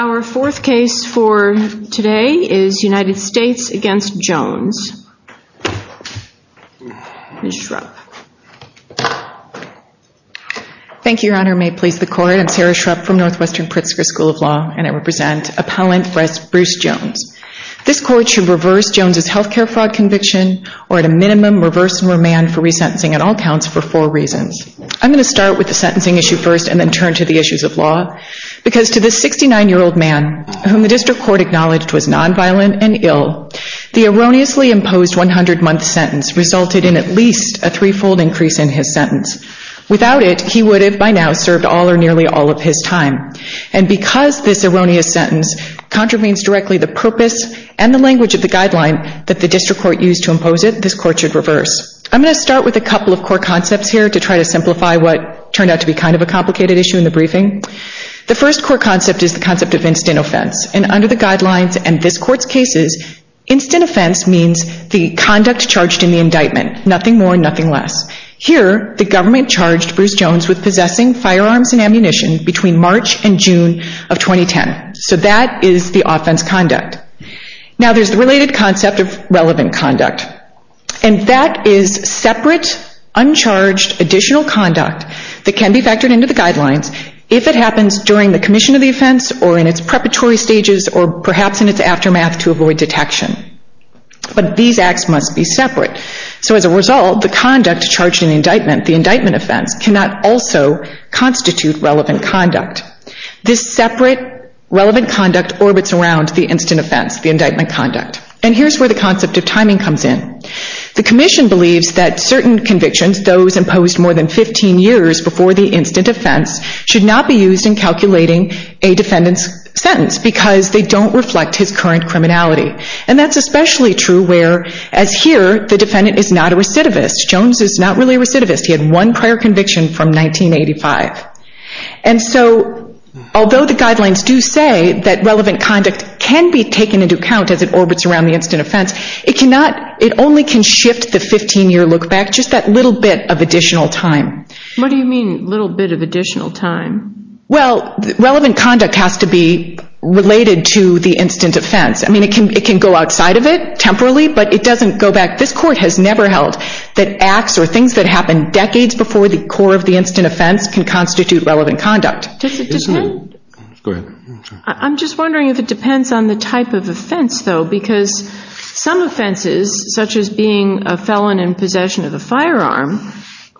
Our fourth case for today is United States v. Jones. Ms. Schrupp. Thank you, Your Honor. May it please the Court, I'm Sarah Schrupp from Northwestern Pritzker School of Law and I represent Appellant Bruce Jones. This Court should reverse Jones' health care fraud conviction or at a minimum reverse and remand for resentencing on all counts for four reasons. I'm going to start with the sentencing issue first and then turn to the issues of law because to this 69-year-old man whom the District Court acknowledged was non-violent and ill, the erroneously imposed 100-month sentence resulted in at least a three-fold increase in his sentence. Without it, he would have by now served all or nearly all of his time. And because this erroneous sentence contravenes directly the purpose and the language of the guideline that the District Court used to impose it, this Court should reverse. I'm going to start with a couple of core concepts here to try to simplify what turned out to be kind of a complicated issue in the briefing. The first core concept is the concept of instant offense. And under the guidelines and this Court's cases, instant offense means the conduct charged in the indictment, nothing more, nothing less. Here, the government charged Bruce Jones with possessing firearms and ammunition between March and June of 2010. So that is the offense conduct. Now, there's the related concept of relevant conduct. And that is separate, uncharged, additional conduct that can be factored into the guidelines if it happens during the commission of the offense or in its preparatory stages or perhaps in its aftermath to avoid detection. But these acts must be separate. So as a result, the conduct charged in indictment, the indictment offense, cannot also constitute relevant conduct. This separate relevant conduct orbits around the instant offense, the indictment conduct. And here's where the concept of timing comes in. The commission believes that certain convictions, those imposed more than 15 years before the instant offense, should not be used in calculating a defendant's sentence because they don't reflect his current criminality. And that's especially true where, as here, the defendant is not a recidivist. Jones is not really a recidivist. He had one prior conviction from 1985. And so, although the guidelines do say that relevant conduct can be taken into account as it orbits around the instant offense, it only can shift the 15-year look back just that little bit of additional time. What do you mean little bit of additional time? Well, relevant conduct has to be related to the instant offense. I mean, it can go outside of it temporarily, but it doesn't go back. This court has never held that acts or things that happen decades before the core of the instant offense can constitute relevant conduct. I'm just wondering if it depends on the type of offense, though, because some offenses, such as being a felon in possession of a firearm,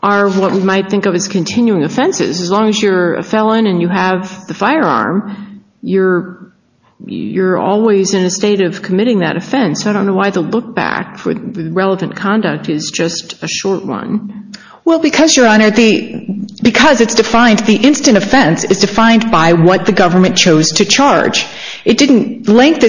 are what we might think of as continuing offenses. As long as you're a felon and you have the firearm, you're always in a state of committing that offense. I don't know why the look back for relevant conduct is just a short one. Well, because, Your Honor, because it's defined, the instant offense is defined by what the government chose to charge. Length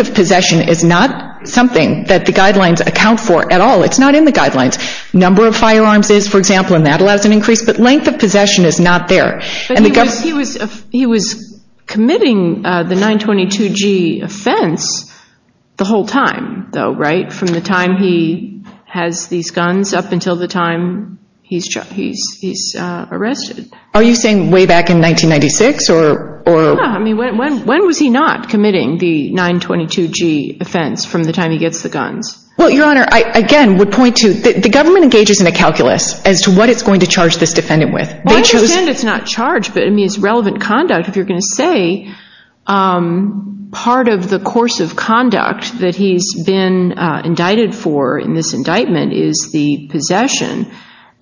of possession is not something that the guidelines account for at all. It's not in the guidelines. Number of firearms is, for example, and that allows an increase, but length of possession is not there. But he was committing the 922G offense the whole time, though, right, from the time he has these guns up until the time he's arrested. Are you saying way back in 1996 or? Yeah, I mean, when was he not committing the 922G offense from the time he gets the guns? Well, Your Honor, I again would point to, the government engages in a calculus as to what it's going to charge this defendant with. Well, I understand it's not charge, but I mean, it's relevant conduct if you're going to say part of the course of conduct that he's been indicted for in this indictment is the possession,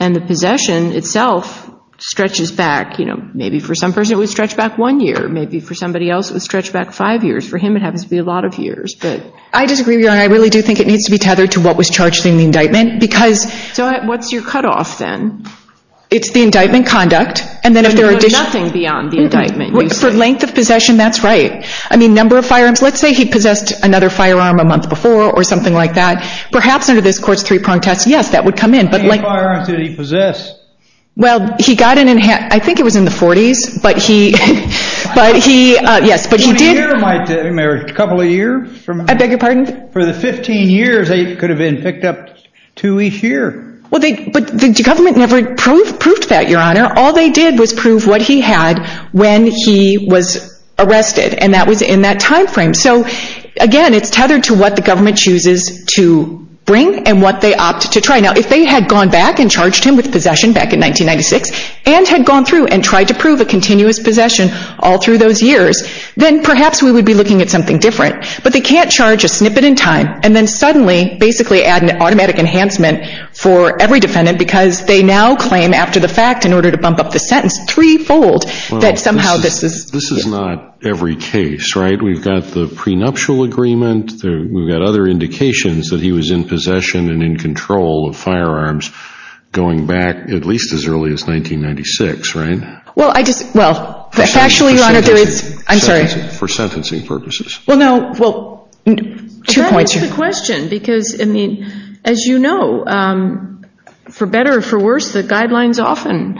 and the possession itself stretches back, you know, maybe for some person it would stretch back one year, maybe for somebody else it would stretch back five years. For him it happens to be a lot of years, but. I disagree, Your Honor, I really do think it needs to be tethered to what was charged in the indictment, because. So what's your cutoff then? It's the indictment conduct, and then if there are additional. Nothing beyond the indictment. For length of possession, that's right. I mean, number of firearms. Let's say he possessed another firearm a month before or something like that. Perhaps under this course three prong test, yes, that would come in. How many firearms did he possess? Well, he got in, I think it was in the 40s, but he, yes, but he did. A couple of years? I beg your pardon? For the 15 years they could have been picked up two each year. Well, but the government never proved that, Your Honor. All they did was prove what he had when he was arrested, and that was in that time frame. So, again, it's tethered to what the government chooses to bring and what they opt to try. Now, if they had gone back and charged him with possession back in 1996, and had gone through and tried to prove a continuous possession all through those years, then perhaps we would be looking at something different. But they can't charge a snippet in time and then suddenly basically add an automatic enhancement for every defendant because they now claim after the fact in order to bump up the sentence threefold that somehow this is. This is not every case, right? We've got the prenuptial agreement. We've got other indications that he was in possession and in control of firearms going back at least as early as 1996, right? Well, I just, well, actually, Your Honor, I'm sorry. For sentencing purposes. Well, no, well, two points here. That answers the question because, I mean, as you know, for better or for worse, the guidelines often,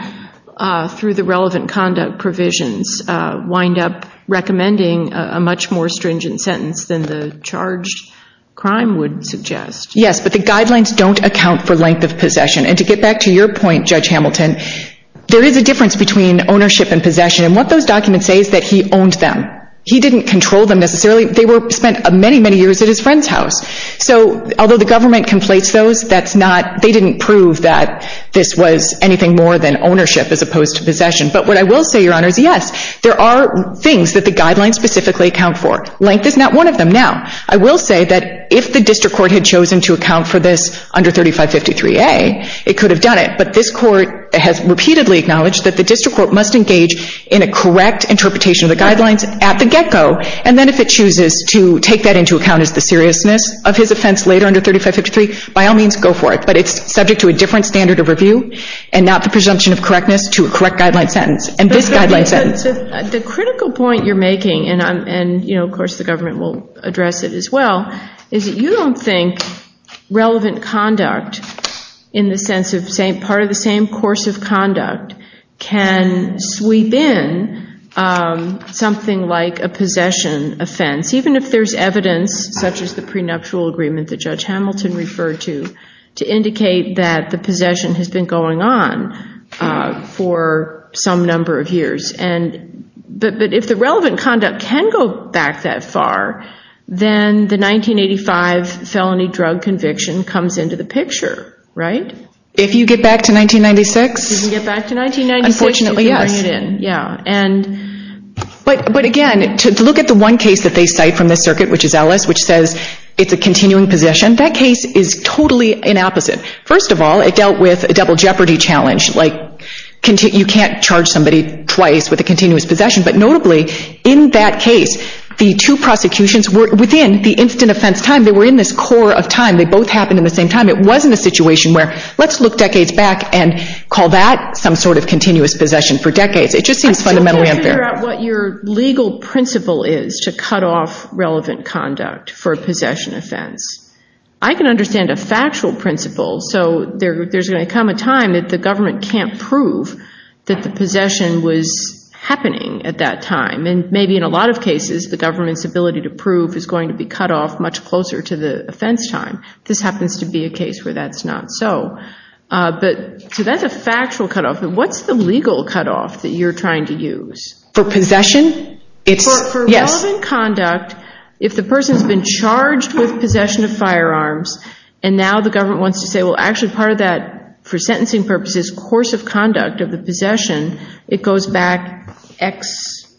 through the relevant conduct provisions, wind up recommending a much more stringent sentence than the charged crime would suggest. Yes, but the guidelines don't account for length of possession. And to get back to your point, Judge Hamilton, there is a difference between ownership and possession. And what those documents say is that he owned them. He didn't control them necessarily. They were spent many, many years at his friend's house. So although the government conflates those, that's not, they didn't prove that this was anything more than ownership as opposed to possession. But what I will say, Your Honor, is yes, there are things that the guidelines specifically account for. Length is not one of them. Now, I will say that if the district court had chosen to account for this under 3553A, it could have done it. But this court has repeatedly acknowledged that the district court must engage in a correct interpretation of the guidelines at the get-go. And then if it chooses to take that into account as the seriousness of his offense later under 3553, by all means, go for it. But it's subject to a different standard of review and not the presumption of correctness to a correct guideline sentence. And this guideline sentence. The critical point you're making, and, you know, of course the government will address it as well, is that you don't think relevant conduct in the sense of part of the same course of conduct can sweep in something like a possession offense, even if there's evidence such as the prenuptial agreement that Judge Hamilton referred to, to indicate that the possession has been going on for some number of years. But if the relevant conduct can go back that far, then the 1985 felony drug conviction comes into the picture, right? If you get back to 1996? Unfortunately, yes. But again, to look at the one case that they cite from this circuit, which is Ellis, which says it's a continuing possession, that case is totally an opposite. First of all, it dealt with a double jeopardy challenge, like you can't charge somebody twice with a continuous possession. But notably, in that case, the two prosecutions were within the instant offense time. They were in this core of time. They both happened in the same time. It wasn't a situation where let's look decades back and call that some sort of continuous possession for decades. It just seems fundamentally unfair. So can you figure out what your legal principle is to cut off relevant conduct for a possession offense? I can understand a factual principle. So there's going to come a time that the government can't prove that the possession was happening at that time. And maybe in a lot of cases, the government's ability to prove is going to be cut off much closer to the offense time. This happens to be a case where that's not so. So that's a factual cutoff. What's the legal cutoff that you're trying to use? For possession? For relevant conduct, if the person's been charged with possession of firearms and now the government wants to say, well, actually part of that, for sentencing purposes, course of conduct of the possession, it goes back X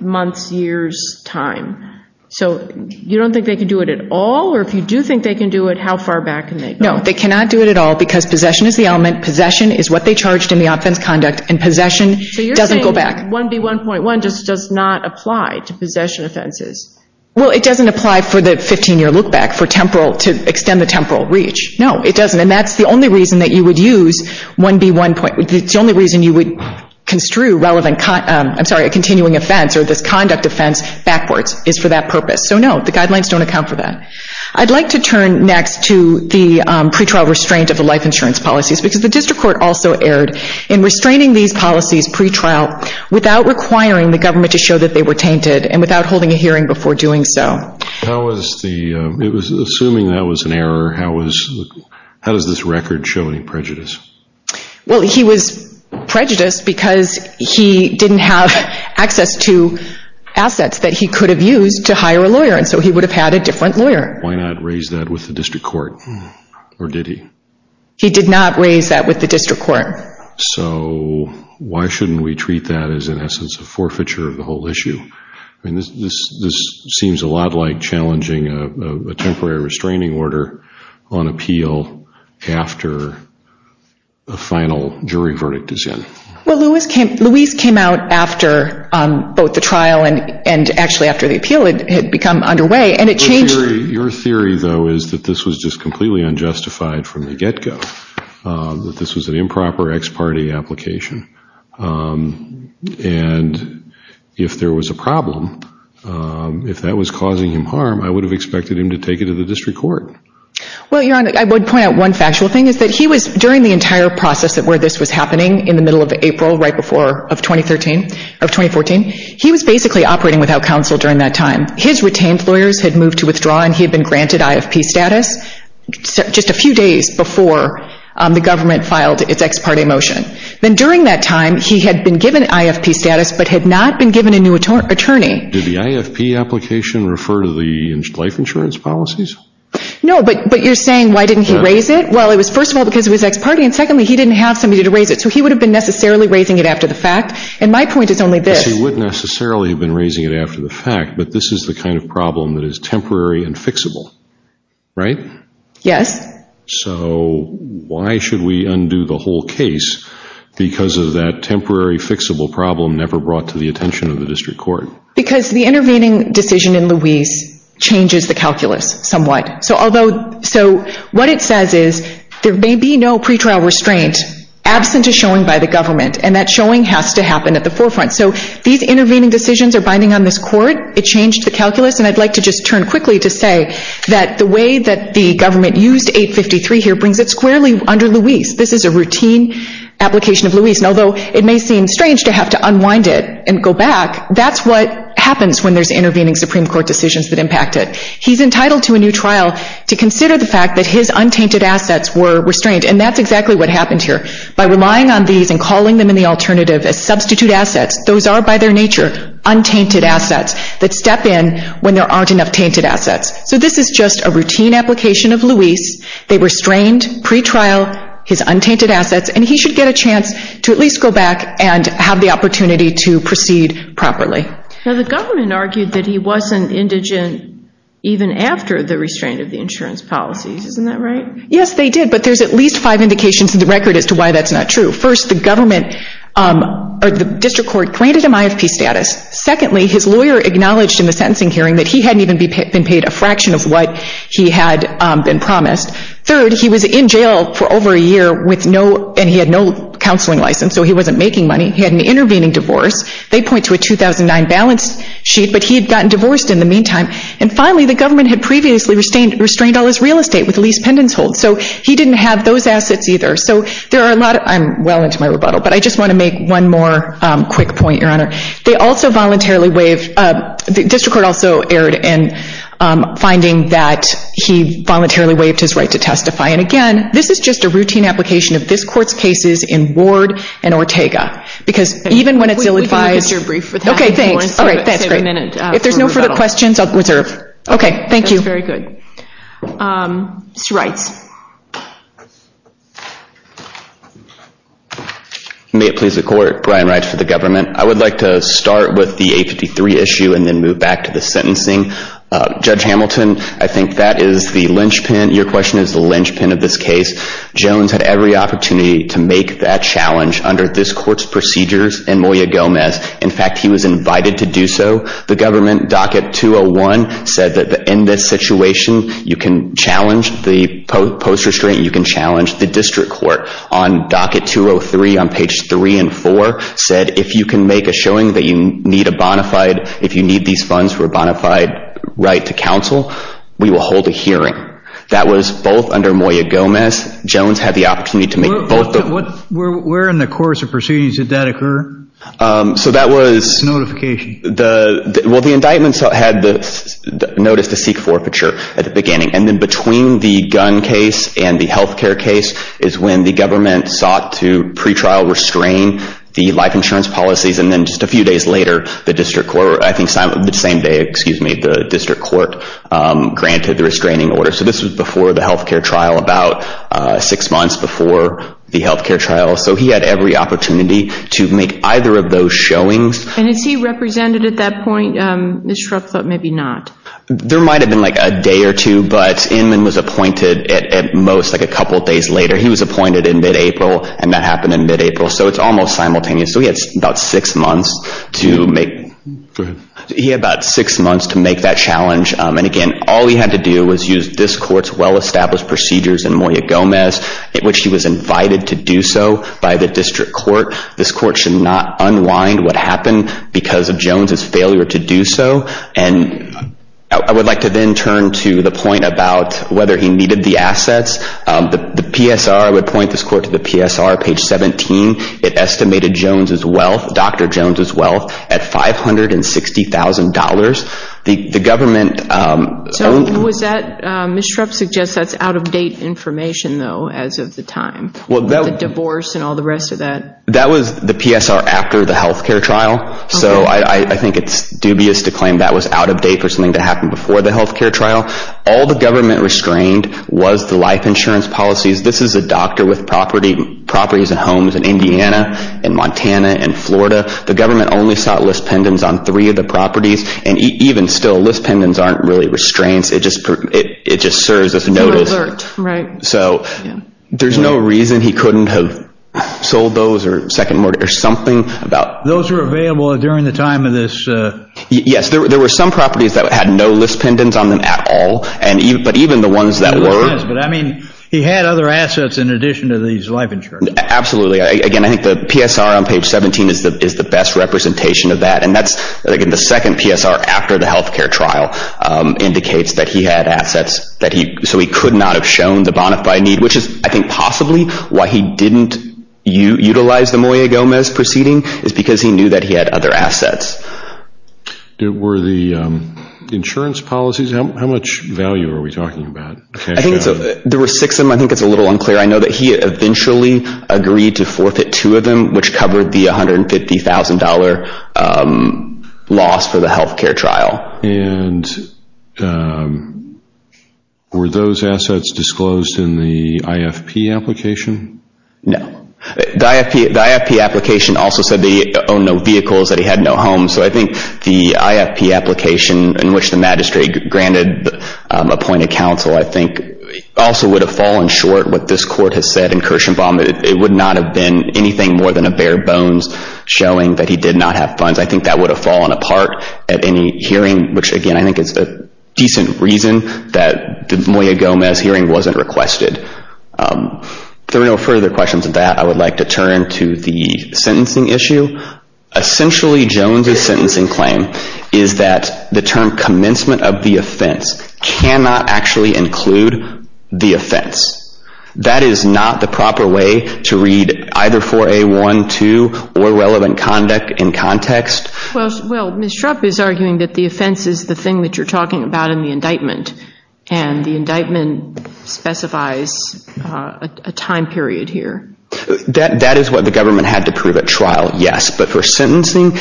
months, years, time. So you don't think they can do it at all? Or if you do think they can do it, how far back can they go? No, they cannot do it at all because possession is the element, possession is what they charged in the offense conduct, and possession doesn't go back. So you're saying that 1B1.1 just does not apply to possession offenses? Well, it doesn't apply for the 15-year look-back to extend the temporal reach. No, it doesn't. And that's the only reason that you would use 1B1.1. The only reason you would construe a continuing offense or this conduct offense backwards is for that purpose. So, no, the guidelines don't account for that. I'd like to turn next to the pretrial restraint of the life insurance policies because the district court also erred in restraining these policies pretrial without requiring the government to show that they were tainted and without holding a hearing before doing so. Assuming that was an error, how does this record show any prejudice? Well, he was prejudiced because he didn't have access to assets that he could have used to hire a lawyer, and so he would have had a different lawyer. Why not raise that with the district court, or did he? He did not raise that with the district court. So why shouldn't we treat that as, in essence, a forfeiture of the whole issue? I mean, this seems a lot like challenging a temporary restraining order on appeal after a final jury verdict is in. Well, Luis came out after both the trial and actually after the appeal had become underway, and it changed... Your theory, though, is that this was just completely unjustified from the get-go, that this was an improper ex parte application, and if there was a problem, if that was causing him harm, I would have expected him to take it to the district court. Well, Your Honor, I would point out one factual thing, is that he was, during the entire process of where this was happening, in the middle of April, right before, of 2014, he was basically operating without counsel during that time. His retained lawyers had moved to withdraw, and he had been granted IFP status just a few days before the government filed its ex parte motion. Then during that time, he had been given IFP status, but had not been given a new attorney. Did the IFP application refer to the life insurance policies? No, but you're saying, why didn't he raise it? Well, it was first of all because it was ex parte, and secondly, he didn't have somebody to raise it. So he would have been necessarily raising it after the fact, and my point is only this. Yes, he would necessarily have been raising it after the fact, but this is the kind of problem that is temporary and fixable, right? Yes. So why should we undo the whole case because of that temporary, fixable problem never brought to the attention of the district court? Because the intervening decision in Louise changes the calculus somewhat. So what it says is, there may be no pretrial restraint absent a showing by the government, and that showing has to happen at the forefront. So these intervening decisions are binding on this court. It changed the calculus, and I'd like to just turn quickly to say that the way that the government used 853 here brings it squarely under Louise. This is a routine application of Louise, and although it may seem strange to have to unwind it and go back, that's what happens when there's intervening Supreme Court decisions that impact it. He's entitled to a new trial to consider the fact that his untainted assets were restrained, and that's exactly what happened here. By relying on these and calling them in the alternative as substitute assets, those are by their nature untainted assets that step in when there aren't enough tainted assets. So this is just a routine application of Louise. They restrained pretrial his untainted assets, and he should get a chance to at least go back and have the opportunity to proceed properly. Now the government argued that he wasn't indigent even after the restraint of the insurance policies. Isn't that right? Yes, they did, but there's at least five indications in the record as to why that's not true. First, the district court granted him IFP status. Secondly, his lawyer acknowledged in the sentencing hearing that he hadn't even been paid a fraction of what he had been promised. Third, he was in jail for over a year, and he had no counseling license, so he wasn't making money. He had an intervening divorce. They point to a 2009 balance sheet, but he had gotten divorced in the meantime. And finally, the government had previously restrained all his real estate with a lease pendants hold, so he didn't have those assets either. I'm well into my rebuttal, but I just want to make one more quick point, Your Honor. The district court also erred in finding that he voluntarily waived his right to testify, and again, this is just a routine application of this court's cases in Ward and Ortega, because even when it's ill-advised. We can look at your brief for that. Okay, thanks. All right, that's great. If there's no further questions, I'll reserve. Okay, thank you. That's very good. Mr. Reitz. May it please the court, Brian Reitz for the government. I would like to start with the 853 issue and then move back to the sentencing. Judge Hamilton, I think that is the linchpin. Your question is the linchpin of this case. Jones had every opportunity to make that challenge under this court's procedures and Moya Gomez. In fact, he was invited to do so. The government docket 201 said that in this situation, you can challenge the post restraint, you can challenge the district court. On docket 203 on page 3 and 4 said, if you can make a showing that you need a bona fide, if you need these funds for a bona fide right to counsel, we will hold a hearing. That was both under Moya Gomez. Jones had the opportunity to make both. Where in the course of proceedings did that occur? So that was. Notification. Well, the indictments had the notice to seek forfeiture at the beginning. And then between the gun case and the health care case is when the government sought to pretrial restrain the life insurance policies. And then just a few days later, the district court, I think the same day, excuse me, the district court granted the restraining order. So this was before the health care trial, about six months before the health care trial. So he had every opportunity to make either of those showings. And is he represented at that point? Ms. Shrupp thought maybe not. There might have been like a day or two, but Inman was appointed at most like a couple days later. He was appointed in mid-April, and that happened in mid-April. So it's almost simultaneous. So he had about six months to make that challenge. And, again, all he had to do was use this court's well-established procedures in Moya-Gomez, in which he was invited to do so by the district court. This court should not unwind what happened because of Jones's failure to do so. And I would like to then turn to the point about whether he needed the assets. The PSR, I would point this court to the PSR, page 17. It estimated Jones's wealth, Dr. Jones's wealth, at $560,000. The government- So was that- Ms. Shrupp suggests that's out-of-date information, though, as of the time. The divorce and all the rest of that. That was the PSR after the health care trial. So I think it's dubious to claim that was out-of-date for something to happen before the health care trial. All the government restrained was the life insurance policies. This is a doctor with properties and homes in Indiana and Montana and Florida. The government only sought list pendants on three of the properties. And even still, list pendants aren't really restraints. It just serves as a notice. So there's no reason he couldn't have sold those or something about- Those were available during the time of this- Yes, there were some properties that had no list pendants on them at all, but even the ones that were- He had other assets in addition to these life insurance. Absolutely. Again, I think the PSR on page 17 is the best representation of that. And that's, again, the second PSR after the health care trial indicates that he had assets that he- So he could not have shown the bonafide need, which is, I think, possibly why he didn't utilize the Moya-Gomez proceeding, is because he knew that he had other assets. Were the insurance policies- How much value are we talking about? I think there were six of them. I think it's a little unclear. I know that he eventually agreed to forfeit two of them, which covered the $150,000 loss for the health care trial. And were those assets disclosed in the IFP application? No. The IFP application also said that he owned no vehicles, that he had no homes. So I think the IFP application in which the magistrate granted appointed counsel, I think, also would have fallen short what this court has said in Kirshenbaum. It would not have been anything more than a bare bones showing that he did not have funds. I think that would have fallen apart at any hearing, which, again, I think is a decent reason that the Moya-Gomez hearing wasn't requested. If there are no further questions of that, I would like to turn to the sentencing issue. Essentially, Jones's sentencing claim is that the term commencement of the offense cannot actually include the offense. That is not the proper way to read either 4A.1.2 or relevant conduct in context. Well, Ms. Shrupp is arguing that the offense is the thing that you're talking about in the indictment, and the indictment specifies a time period here. That is what the government had to prove at trial, yes. But for sentencing,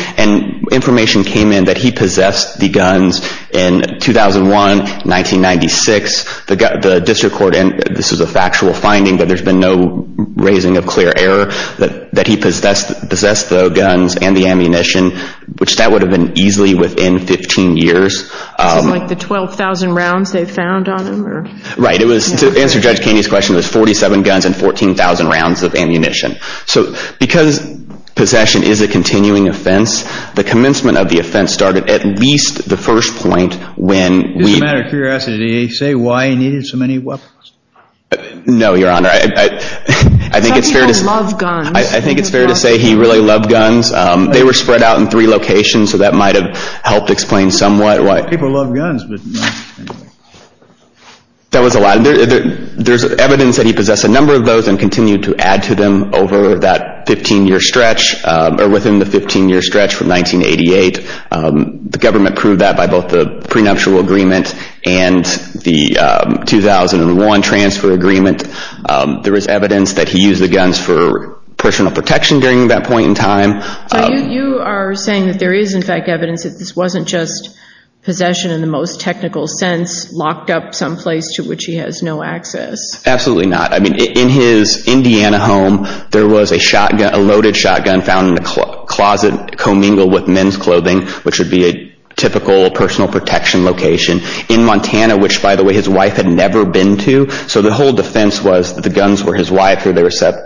information came in that he possessed the guns in 2001, 1996. The district court, and this is a factual finding that there's been no raising of clear error, that he possessed the guns and the ammunition, which that would have been easily within 15 years. This is like the 12,000 rounds they found on him? Right. To answer Judge Kaney's question, it was 47 guns and 14,000 rounds of ammunition. So because possession is a continuing offense, the commencement of the offense started at least the first point when we- Just out of curiosity, did he say why he needed so many weapons? No, Your Honor. Some people love guns. I think it's fair to say he really loved guns. They were spread out in three locations, so that might have helped explain somewhat why- People love guns, but- There's evidence that he possessed a number of those and continued to add to them over that 15-year stretch, or within the 15-year stretch from 1988. The government proved that by both the prenuptial agreement and the 2001 transfer agreement. There is evidence that he used the guns for personal protection during that point in time. You are saying that there is, in fact, evidence that this wasn't just possession in the most technical sense, locked up someplace to which he has no access. Absolutely not. In his Indiana home, there was a loaded shotgun found in a closet commingled with men's clothing, which would be a typical personal protection location. In Montana, which, by the way, his wife had never been to, so the whole defense was that the guns were his wife's or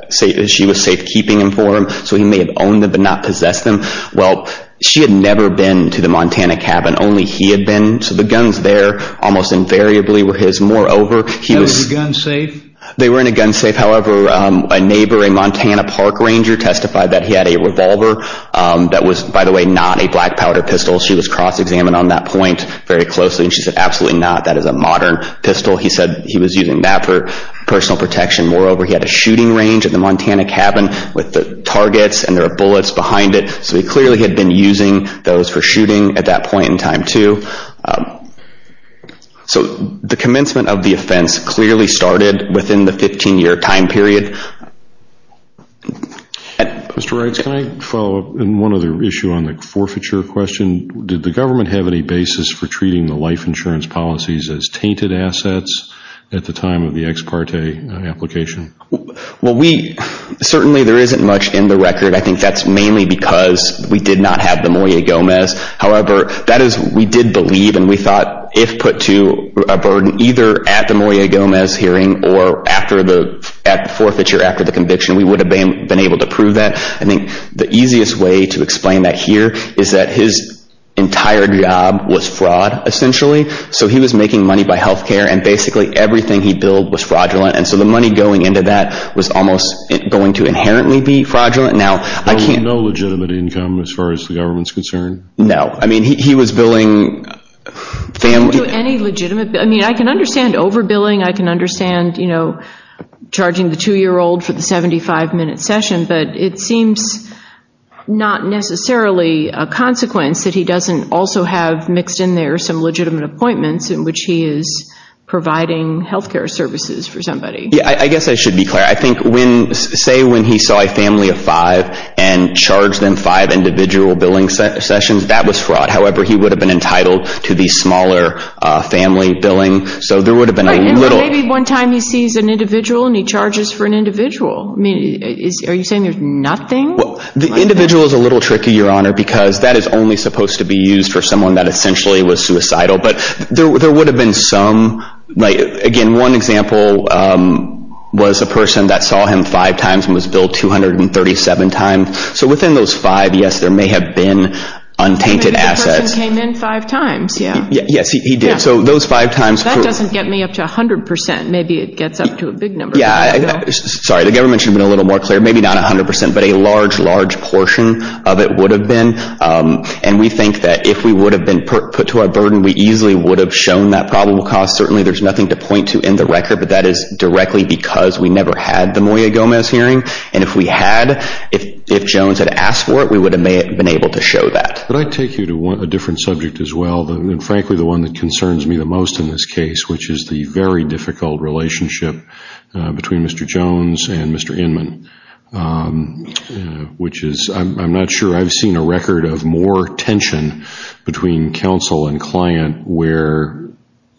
she was safekeeping them for him, so he may have owned them but not possessed them. Well, she had never been to the Montana cabin. Only he had been, so the guns there almost invariably were his. Moreover, he was- They were in a gun safe? They were in a gun safe. However, a neighbor, a Montana park ranger, testified that he had a revolver that was, by the way, not a black powder pistol. She was cross-examined on that point very closely, and she said, absolutely not, that is a modern pistol. He said he was using that for personal protection. Moreover, he had a shooting range at the Montana cabin with the targets, and there were bullets behind it, so he clearly had been using those for shooting at that point in time, too. So the commencement of the offense clearly started within the 15-year time period. Mr. Wright, can I follow up on one other issue on the forfeiture question? Did the government have any basis for treating the life insurance policies as tainted assets at the time of the ex parte application? Well, we-certainly there isn't much in the record. I think that's mainly because we did not have Demoyer-Gomez. However, that is, we did believe and we thought if put to a burden, either at the Demoyer-Gomez hearing or at the forfeiture after the conviction, we would have been able to prove that. I think the easiest way to explain that here is that his entire job was fraud, essentially. So he was making money by health care, and basically everything he billed was fraudulent, and so the money going into that was almost going to inherently be fraudulent. Now, I can't- No legitimate income as far as the government's concerned? No. I mean, he was billing family- He didn't do any legitimate-I mean, I can understand overbilling. I can understand, you know, charging the 2-year-old for the 75-minute session, but it seems not necessarily a consequence that he doesn't also have mixed in there some legitimate appointments in which he is providing health care services for somebody. Yeah, I guess I should be clear. I think when-say when he saw a family of five and charged them five individual billing sessions, that was fraud. However, he would have been entitled to the smaller family billing, so there would have been a little- Right, and maybe one time he sees an individual and he charges for an individual. I mean, are you saying there's nothing like that? Well, the individual is a little tricky, Your Honor, because that is only supposed to be used for someone that essentially was suicidal. But there would have been some-again, one example was a person that saw him five times and was billed 237 times. So within those five, yes, there may have been untainted assets. Maybe the person came in five times, yeah. Yes, he did. So those five times- That doesn't get me up to 100%. Maybe it gets up to a big number. Yeah, sorry, the government should have been a little more clear. Maybe not 100%, but a large, large portion of it would have been. And we think that if we would have been put to our burden, we easily would have shown that probable cause. Certainly there's nothing to point to in the record, but that is directly because we never had the Moya-Gomez hearing. And if we had, if Jones had asked for it, we would have been able to show that. Could I take you to a different subject as well, and frankly the one that concerns me the most in this case, which is the very difficult relationship between Mr. Jones and Mr. Inman, which is I'm not sure I've seen a record of more tension between counsel and client where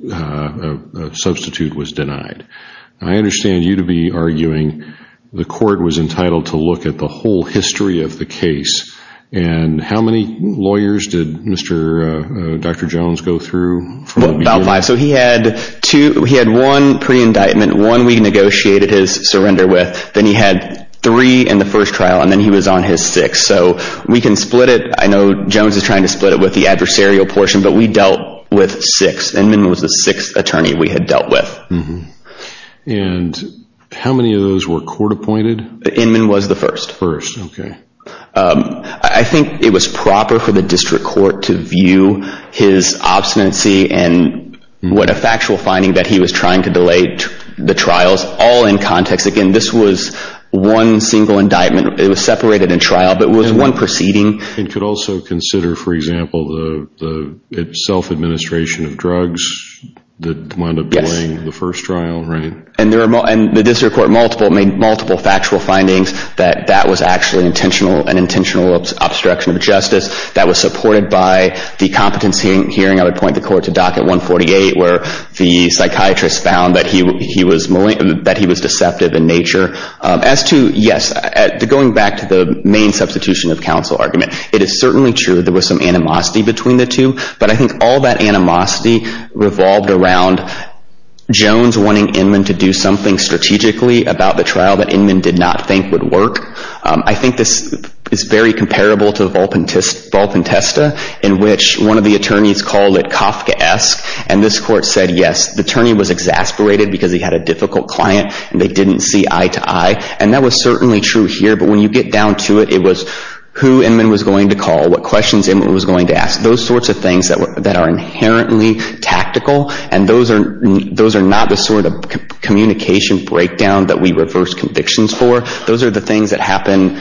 a substitute was denied. I understand you to be arguing the court was entitled to look at the whole history of the case, and how many lawyers did Dr. Jones go through from the beginning? He had one pre-indictment, one we negotiated his surrender with, then he had three in the first trial, and then he was on his sixth. So we can split it. I know Jones is trying to split it with the adversarial portion, but we dealt with six. Inman was the sixth attorney we had dealt with. And how many of those were court appointed? Inman was the first. First, okay. I think it was proper for the district court to view his obstinacy and what a factual finding that he was trying to delay the trials all in context. Again, this was one single indictment. It was separated in trial, but it was one proceeding. It could also consider, for example, the self-administration of drugs that wound up delaying the first trial, right? And the district court made multiple factual findings that that was actually an intentional obstruction of justice that was supported by the competency hearing. I would point the court to docket 148 where the psychiatrist found that he was deceptive in nature. As to, yes, going back to the main substitution of counsel argument, it is certainly true there was some animosity between the two, but I think all that animosity revolved around Jones wanting Inman to do something strategically about the trial that Inman did not think would work. I think this is very comparable to Volpentesta in which one of the attorneys called it Kafkaesque, and this court said, yes, the attorney was exasperated because he had a difficult client and they didn't see eye to eye. And that was certainly true here, but when you get down to it, it was who Inman was going to call, what questions Inman was going to ask, those sorts of things that are inherently tactical, and those are not the sort of communication breakdown that we reverse convictions for. Those are the things that happen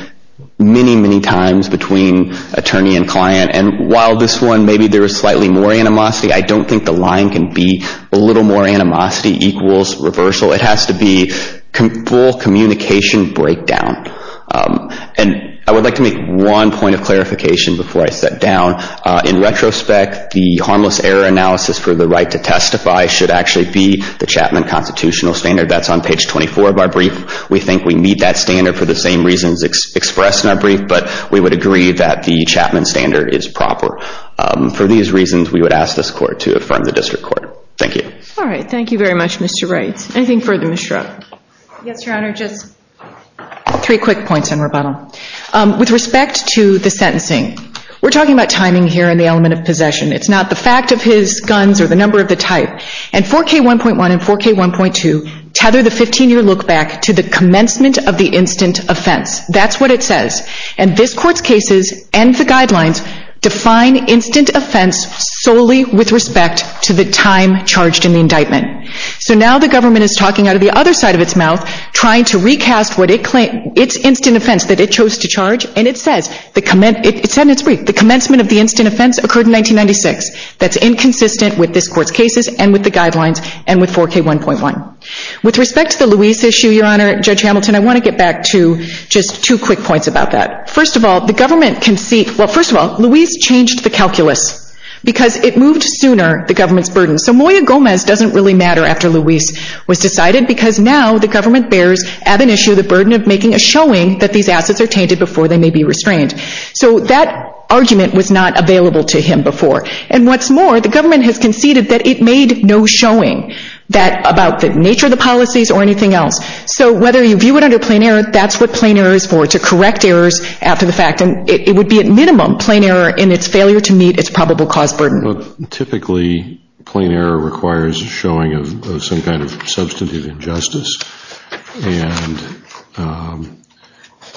many, many times between attorney and client. And while this one, maybe there is slightly more animosity, I don't think the line can be a little more animosity equals reversal. It has to be full communication breakdown. And I would like to make one point of clarification before I sit down. In retrospect, the harmless error analysis for the right to testify should actually be the Chapman Constitutional Standard. That's on page 24 of our brief. We think we meet that standard for the same reasons expressed in our brief, but we would agree that the Chapman Standard is proper. For these reasons, we would ask this court to affirm the district court. Thank you. All right. Thank you very much, Mr. Wright. Anything further, Ms. Schrupp? Yes, Your Honor. Just three quick points in rebuttal. With respect to the sentencing, we're talking about timing here and the element of possession. It's not the fact of his guns or the number of the type. And 4K1.1 and 4K1.2 tether the 15-year look back to the commencement of the instant offense. That's what it says. And this court's cases and the guidelines define instant offense solely with respect to the time charged in the indictment. So now the government is talking out of the other side of its mouth, trying to recast its instant offense that it chose to charge, and it says in its brief, the commencement of the instant offense occurred in 1996. That's inconsistent with this court's cases and with the guidelines and with 4K1.1. With respect to the Luis issue, Your Honor, Judge Hamilton, I want to get back to just two quick points about that. First of all, the government can see – well, first of all, Luis changed the calculus because it moved sooner the government's burden. So Moya Gomez doesn't really matter after Luis was decided because now the government bears, at an issue, the burden of making a showing that these assets are tainted before they may be restrained. So that argument was not available to him before. And what's more, the government has conceded that it made no showing about the nature of the policies or anything else. So whether you view it under plain error, that's what plain error is for, to correct errors after the fact. And it would be at minimum plain error in its failure to meet its probable cause burden. Well, typically, plain error requires a showing of some kind of substantive injustice. And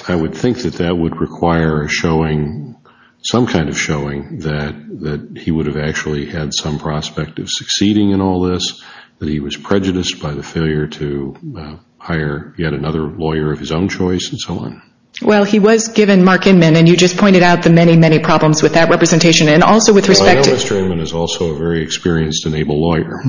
I would think that that would require a showing, some kind of showing, that he would have actually had some prospect of succeeding in all this, that he was prejudiced by the failure to hire yet another lawyer of his own choice and so on. Well, he was given Mark Inman, and you just pointed out the many, many problems with that representation. Well, I know Mr. Inman is also a very experienced and able lawyer.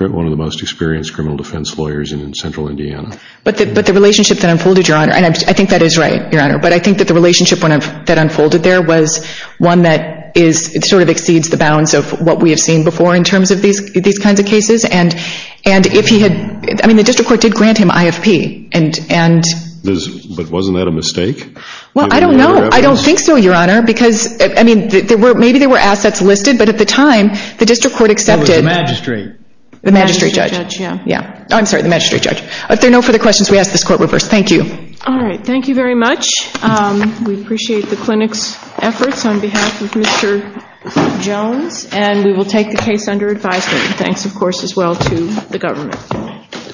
One of the most experienced criminal defense lawyers in Central Indiana. But the relationship that unfolded, Your Honor, and I think that is right, Your Honor, but I think that the relationship that unfolded there was one that sort of exceeds the bounds of what we have seen before in terms of these kinds of cases. And if he had, I mean, the district court did grant him IFP. But wasn't that a mistake? Well, I don't know. I don't think so, Your Honor. Because, I mean, maybe there were assets listed. But at the time, the district court accepted. It was the magistrate. The magistrate judge. Yeah. I'm sorry, the magistrate judge. If there are no further questions, we ask this court reverse. Thank you. All right. Thank you very much. We appreciate the clinic's efforts on behalf of Mr. Jones. And we will take the case under advisement. Thanks, of course, as well to the government.